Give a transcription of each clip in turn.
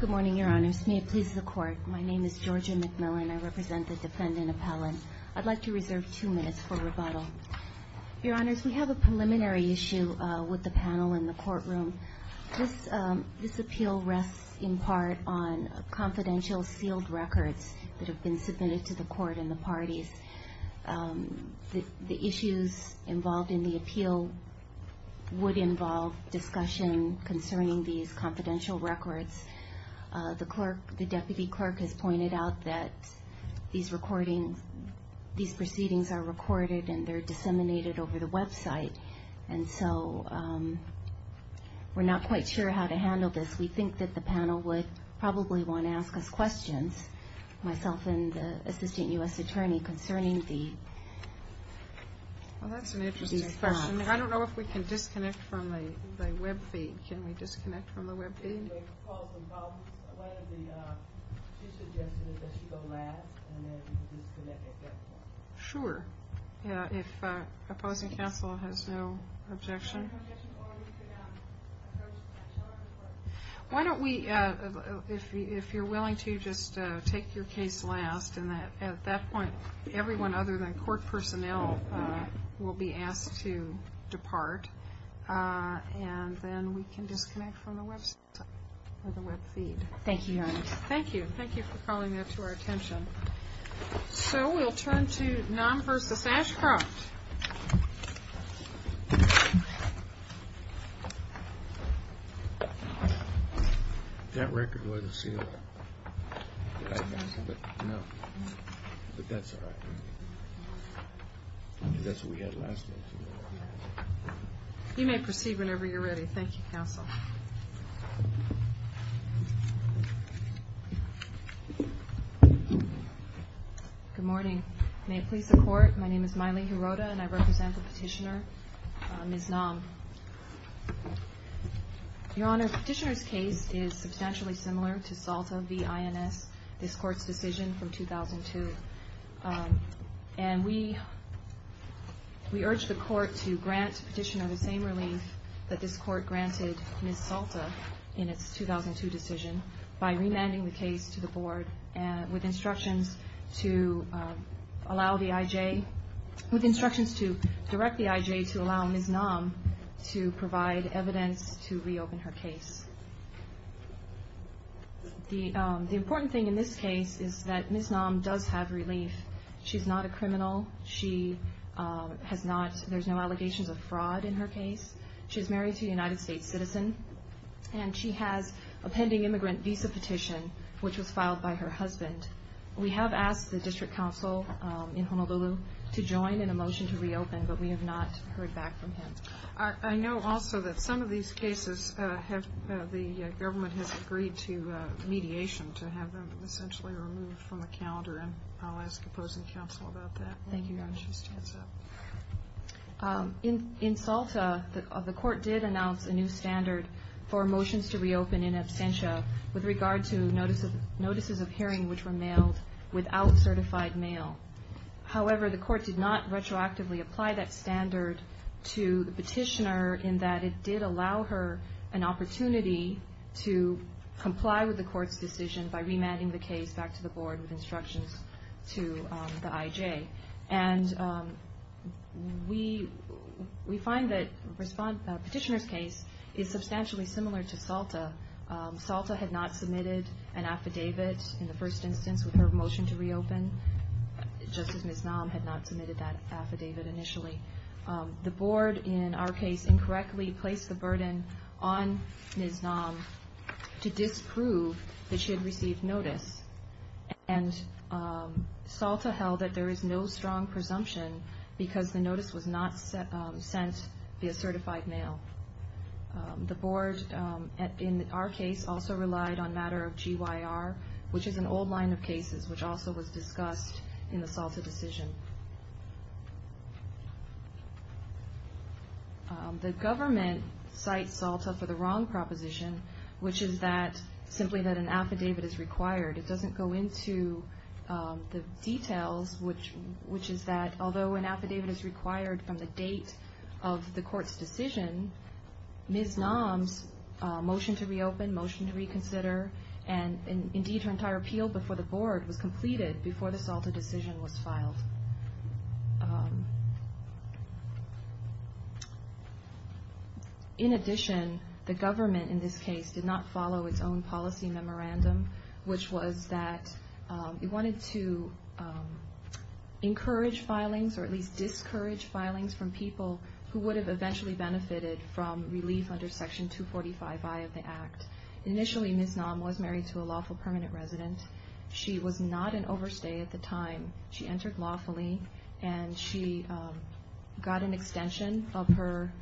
Good morning, Your Honors. May it please the Court, my name is Georgia McMillan. I represent the Defendant Appellant. I'd like to reserve two minutes for rebuttal. Your Honors, we have a preliminary issue with the panel in the courtroom. This appeal rests in part on confidential sealed records that have been submitted to the Court and the parties. The issues involved in the appeal would involve discussion concerning these confidential records. The Deputy Clerk has pointed out that these proceedings are recorded and they're disseminated over the website, and so we're not quite sure how to handle this. We think that the panel would probably want to ask us questions, myself and the Assistant U.S. Attorney concerning these facts. Thank you for calling that to our attention. So we'll turn to NOM v. Ashcroft. You may proceed whenever you're ready. Thank you, Counsel. Good morning. May it please the Court, my name is Maile Hirota, and I represent the Petitioner, Ms. Nam. Your Honors, the Petitioner's case is substantially similar to SALTA v. Ashcroft, and we urge the Court to grant Petitioner the same relief that this Court granted Ms. SALTA in its 2002 decision by remanding the case to the Board with instructions to allow the IJ, with instructions to direct the IJ to allow Ms. Nam to provide evidence to reopen her case. The important thing in this case is that Ms. Nam does have relief. She's not a criminal. She has not, there's no allegations of fraud in her case. She's married to a United States citizen, and she has a pending immigrant visa petition, which was filed by her husband. We have asked the District Counsel in Honolulu to join in a motion to reopen, but we have not heard back from him. I know also that some of these cases have, the government has agreed to mediation to have them essentially removed from the calendar, and I'll ask opposing counsel about that. Thank you, Your Honor. In SALTA, the Court did announce a new standard for motions to reopen in absentia with regard to notices of hearing which were mailed without certified mail. However, the Court did not retroactively apply that standard to the petitioner in that it did allow her an opportunity to comply with the Court's decision by remanding the case back to the Board with instructions to the IJ. And we find that the petitioner's case is substantially similar to SALTA. SALTA had not submitted an affidavit in the first instance with her motion to reopen, just as Ms. Nam had not submitted that affidavit initially. The Board, in our case, incorrectly placed the burden on Ms. Nam to disprove that she had received notice, and SALTA held that there is no strong presumption because the notice was not sent via certified mail. The Board, in our case, also relied on matter of GYR, which is an old line of cases which also was discussed in the SALTA decision. The government cites SALTA for the wrong proposition, which is that simply that an affidavit is required. It doesn't go into the details, which is that although an affidavit is required from the date of the Court's decision, Ms. Nam's motion to reopen, motion to reconsider, and indeed her entire appeal before the Board was completed before the SALTA decision was filed. In addition, the government in this case did not follow its own policy memorandum, which was that it wanted to encourage filings or at least discourage filings from people who would have eventually benefited from relief under Section 245I of the Act. Initially, Ms. Nam was married to a lawful permanent resident. She was not an overstay at the time. She entered lawfully, and she got an extension of her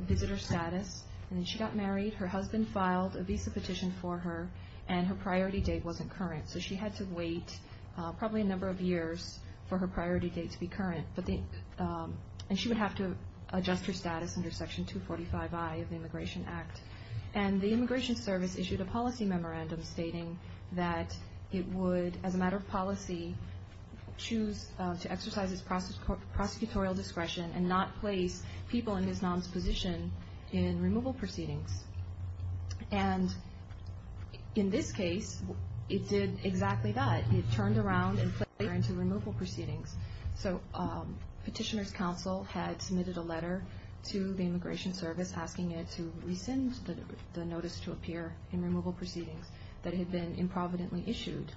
visitor status, and then she got married. Her husband filed a visa petition for her, and her priority date wasn't current, so she had to wait probably a number of years for her priority date to be current, and she would have to adjust her status under Section 245I of the Immigration Act. The Immigration Service issued a policy memorandum stating that it would, as a matter of policy, choose to exercise its prosecutorial discretion and not place people in Ms. Nam's position in removal proceedings. In this case, it did exactly that. It turned around and put her into removal proceedings. Petitioner's counsel had submitted a letter to the Immigration Service, the notice to appear in removal proceedings, that had been improvidently issued,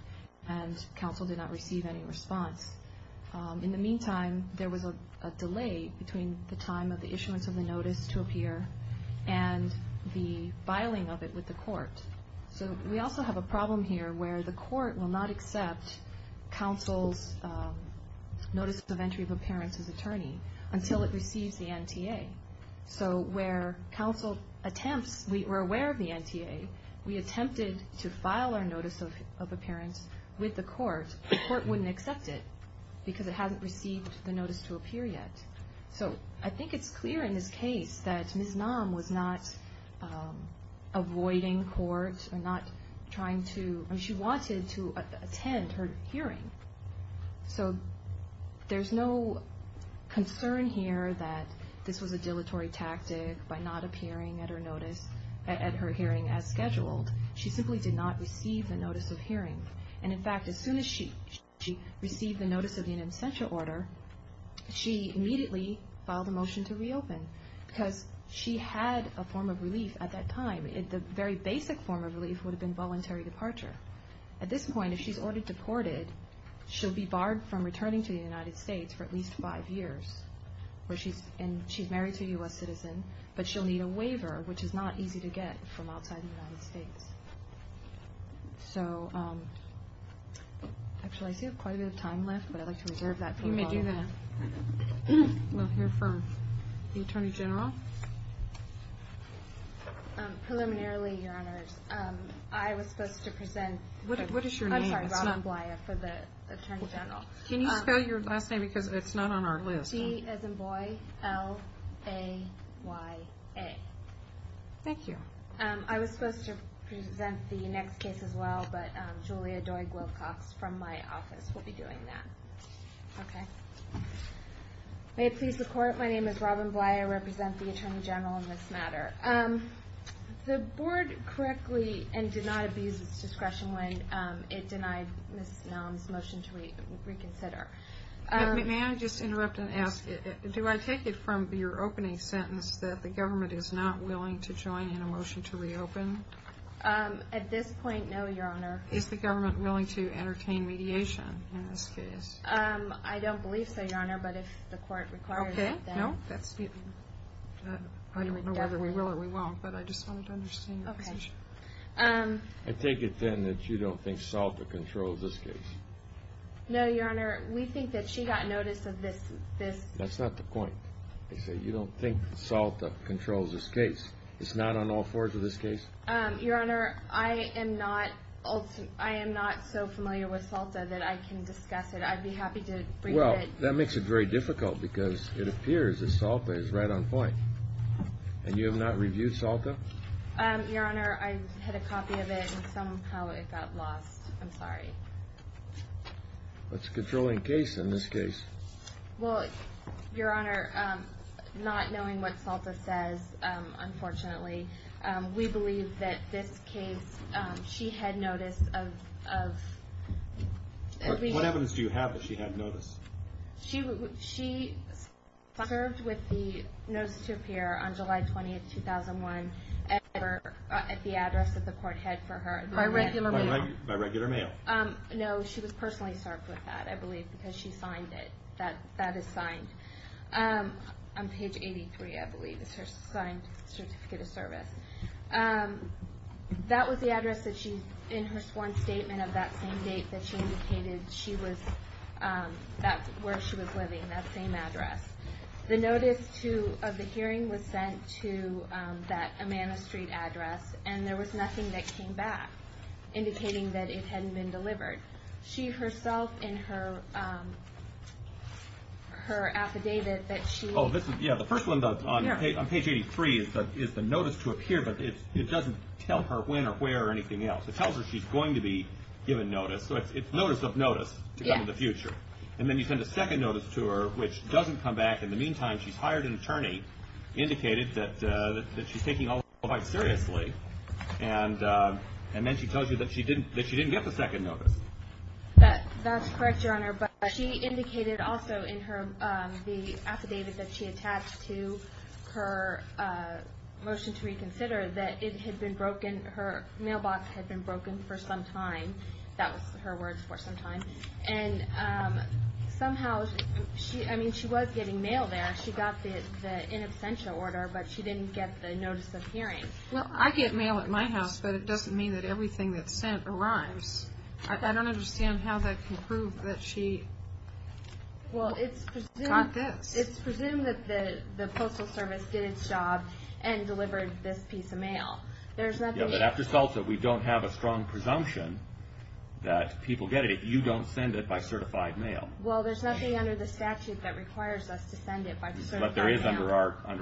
and counsel did not receive any response. In the meantime, there was a delay between the time of the issuance of the notice to appear and the filing of it with the court. So we also have a problem here where the court will not accept counsel's notice of entry of appearance as attorney until it receives the NTA. So where counsel attempts, we're aware of the NTA, we attempted to file our notice of appearance with the court, the court wouldn't accept it because it hasn't received the notice to appear yet. So I think it's clear in this case that Ms. Nam was not avoiding court or not trying to, she wanted to attend her hearing. So there's no concern here that this was a dilatory tactic by not appearing at her hearing as scheduled. She simply did not receive the notice of hearing. And in fact, as soon as she received the notice of the in absentia order, she immediately filed a motion to reopen because she had a form of relief at that time. The very basic form of relief would have been voluntary departure. At this point, if she's already deported, she'll be barred from returning to the United States for at least five years. And she's married to a U.S. citizen, but she'll need a waiver, which is not easy to get from outside the United States. So actually, I see we have quite a bit of time left, but I'd like to reserve that for a while. You may do that. We'll hear from the Attorney General. Preliminarily, Your Honors, I was supposed to present... What is your name? I'm sorry, Robin Blaya for the Attorney General. Can you spell your last name because it's not on our list. G. Ezenboy, L. A. Y. A. Thank you. I was supposed to present the next case as well, but Julia Doig-Wilcox from my office will be doing that. Okay. May it please the Court, my name is Robin Blaya. I represent the Attorney General in this matter. The Board correctly and did not abuse its discretion when it denied Ms. Mellon's motion to reconsider. May I just interrupt and ask, do I take it from your opening sentence that the government is not willing to join in a motion to reopen? At this point, no, Your Honor. Is the government willing to entertain mediation in this case? I don't believe so, Your Honor, but if the Court requires it, then... Okay. No, that's... I don't know whether we will or we won't, but I just wanted to understand your position. I take it then that you don't think SALTA controls this case? No, Your Honor. We think that she got notice of this... That's not the point. You don't think SALTA controls this case? It's not on all fours of this case? Your Honor, I am not... I am not so familiar with SALTA that I can discuss it. I'd be happy to bring it... Well, that makes it very difficult because it appears that SALTA is right on point. And you have not reviewed SALTA? Your Honor, I had a copy of it and somehow it got lost. I'm sorry. What's the controlling case in this case? Well, Your Honor, not knowing what SALTA says, unfortunately, we believe that this case, she had notice of... What evidence do you have that she had notice? She served with the notice to appear on July 20, 2001 at the address that the Court had for her. By regular mail? By regular mail. No, she was personally served with that, I believe, because she signed it. That is signed. On page 83, I believe, is her signed Certificate of Service. That was the address in her sworn statement of that same date that she indicated that's where she was living, that same address. The notice of the hearing was sent to that Amanda Street address, and there was nothing that came back indicating that it hadn't been delivered. She herself in her affidavit that she... Oh, this is... Yeah, the first one on page 83 is the notice to appear, but it doesn't tell her when or where or anything else. It tells her she's going to be given notice. So it's notice of notice to come in the future. Yeah. And then you send a second notice to her, which doesn't come back. In the meantime, she's hired an attorney, indicated that she's taking all of this quite seriously, and then she tells you that she didn't get the second notice. That's correct, Your Honor, but she indicated also in the affidavit that she attached to her motion to reconsider that it had been broken, her mailbox had been broken for some time, and somehow, I mean, she was getting mail there. She got the in absentia order, but she didn't get the notice of hearing. Well, I get mail at my house, but it doesn't mean that everything that's sent arrives. I don't understand how that can prove that she got this. Well, it's presumed that the Postal Service did its job and delivered this piece of mail. There's nothing... After SALTA, we don't have a strong presumption that people get it. You don't send it by certified mail. Well, there's nothing under the statute that requires us to send it by certified mail. But there is under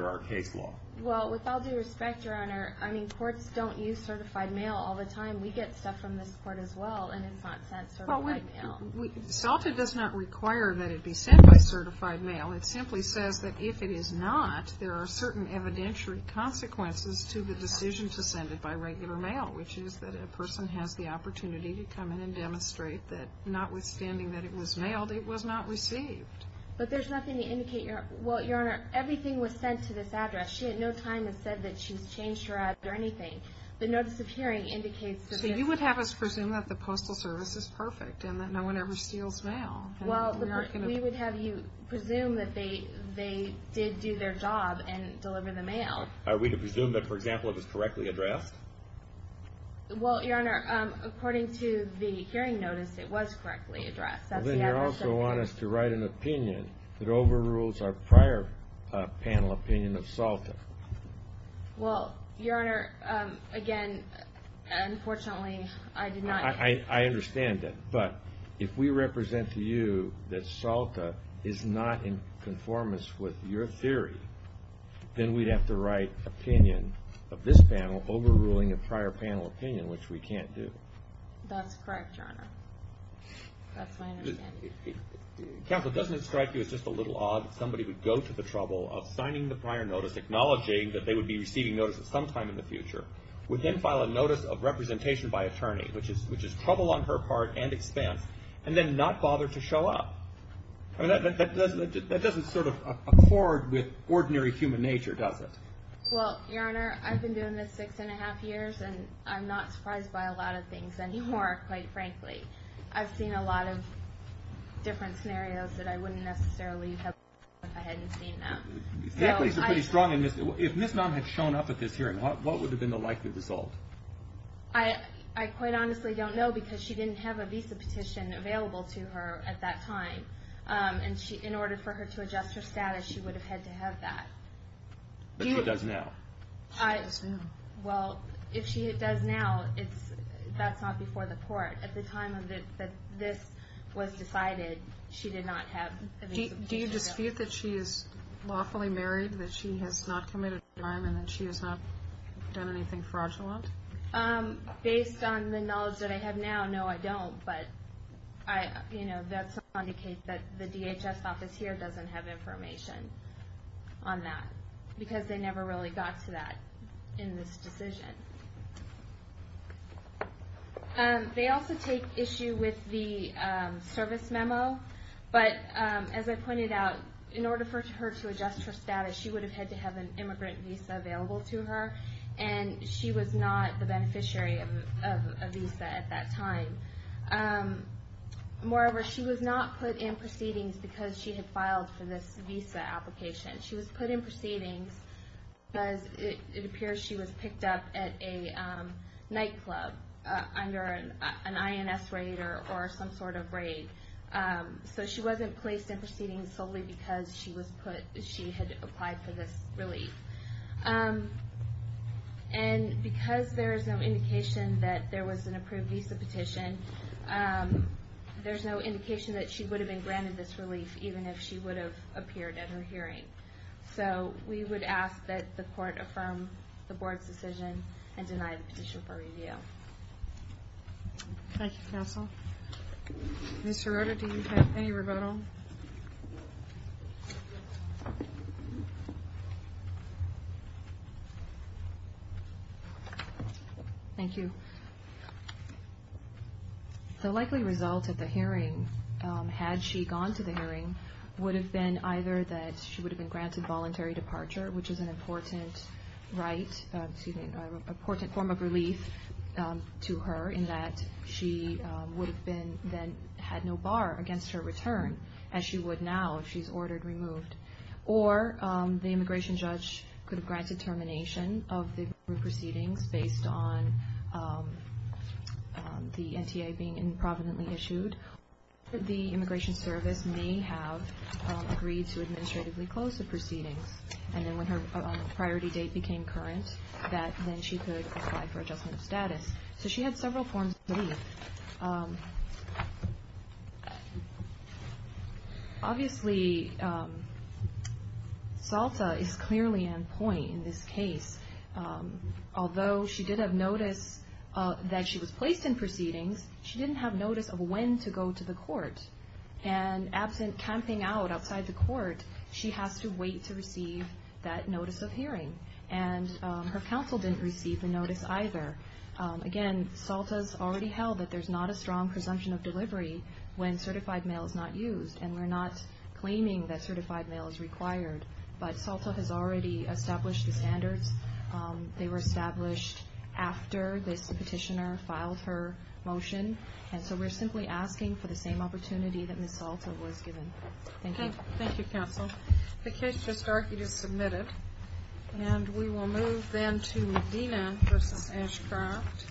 our case law. Well, with all due respect, Your Honor, I mean, courts don't use certified mail all the time. We get stuff from this court as well, and it's not sent certified mail. SALTA does not require that it be sent by certified mail. It simply says that if it is not, there are certain evidentiary consequences to the decision to send it by regular mail, which is that a person has the opportunity to come in and demonstrate that, notwithstanding that it was mailed, it was not received. But there's nothing to indicate your... Well, Your Honor, everything was sent to this address. She at no time has said that she's changed her address or anything. The notice of hearing indicates that this... So you would have us presume that the Postal Service is perfect and that no one ever steals mail. Well, we would have you presume that they did do their job and deliver the mail. Are we to presume that, for example, it was correctly addressed? Well, Your Honor, according to the hearing notice, it was correctly addressed. Then you also want us to write an opinion that overrules our prior panel opinion of SALTA. Well, Your Honor, again, unfortunately, I did not... I understand that, but if we represent to you that SALTA is not in conformance with your theory, then we'd have to write opinion of this panel overruling a prior panel opinion, which we can't do. That's correct, Your Honor. That's my understanding. Counsel, doesn't it strike you as just a little odd that somebody would go to the trouble of signing the prior notice, acknowledging that they would be receiving notice at some time in the future, would then file a notice of representation by attorney, which is trouble on her part and expense, and then not bother to show up? I mean, that doesn't sort of accord with ordinary human nature, does it? Well, Your Honor, I've been doing this six and a half years, and I'm not surprised by a lot of things anymore, quite frankly. I've seen a lot of different scenarios that I wouldn't necessarily have if I hadn't seen them. If Ms. Naum had shown up at this hearing, what would have been the likely result? I quite honestly don't know, because she didn't have a visa petition available to her at that time, and in order for her to adjust her status, she would have had to have that. But she does now. Well, if she does now, that's not before the court. At the time that this was decided, she did not have a visa petition. Do you dispute that she is lawfully married, that she has not committed a crime, and that she has not done anything fraudulent? Based on the knowledge that I have now, no, I don't. But that's not to indicate that the DHS office here doesn't have information on that, because they never really got to that in this decision. They also take issue with the service memo. But as I pointed out, in order for her to adjust her status, she would have had to have an immigrant visa available to her, and she was not the beneficiary of a visa at that time. Moreover, she was not put in proceedings because she had filed for this visa application. She was put in proceedings because it appears she was picked up at a nightclub under an INS raid or some sort of raid. So she wasn't placed in proceedings solely because she had applied for this relief. And because there is no indication that there was an approved visa petition, there's no indication that she would have been granted this relief, even if she would have appeared at her hearing. So we would ask that the court affirm the board's decision and deny the petition for review. Thank you, counsel. Ms. Sirota, do you have any rebuttal? Thank you. The likely result of the hearing, had she gone to the hearing, would have been either that she would have been granted voluntary departure, which is an important form of relief to her, in that she would have then had no bar against her return, as she would now if she's ordered removed. Or the immigration judge could have granted termination of the proceedings based on the NTA being improvidently issued. Or the immigration service may have agreed to administratively close the proceedings. And then when her priority date became current, then she could apply for adjustment of status. So she had several forms of relief. Obviously, Salta is clearly on point in this case. Although she did have notice that she was placed in proceedings, she didn't have notice of when to go to the court. And absent camping out outside the court, she has to wait to receive that notice of hearing. And her counsel didn't receive the notice either. Again, Salta's already held that there's not a strong presumption of delivery when certified mail is not used. And we're not claiming that certified mail is required. But Salta has already established the standards. They were established after this petitioner filed her motion. And so we're simply asking for the same opportunity that Ms. Salta was given. Thank you. Thank you, counsel. The case for Starkey is submitted. And we will move then to Medina v. Ashcroft.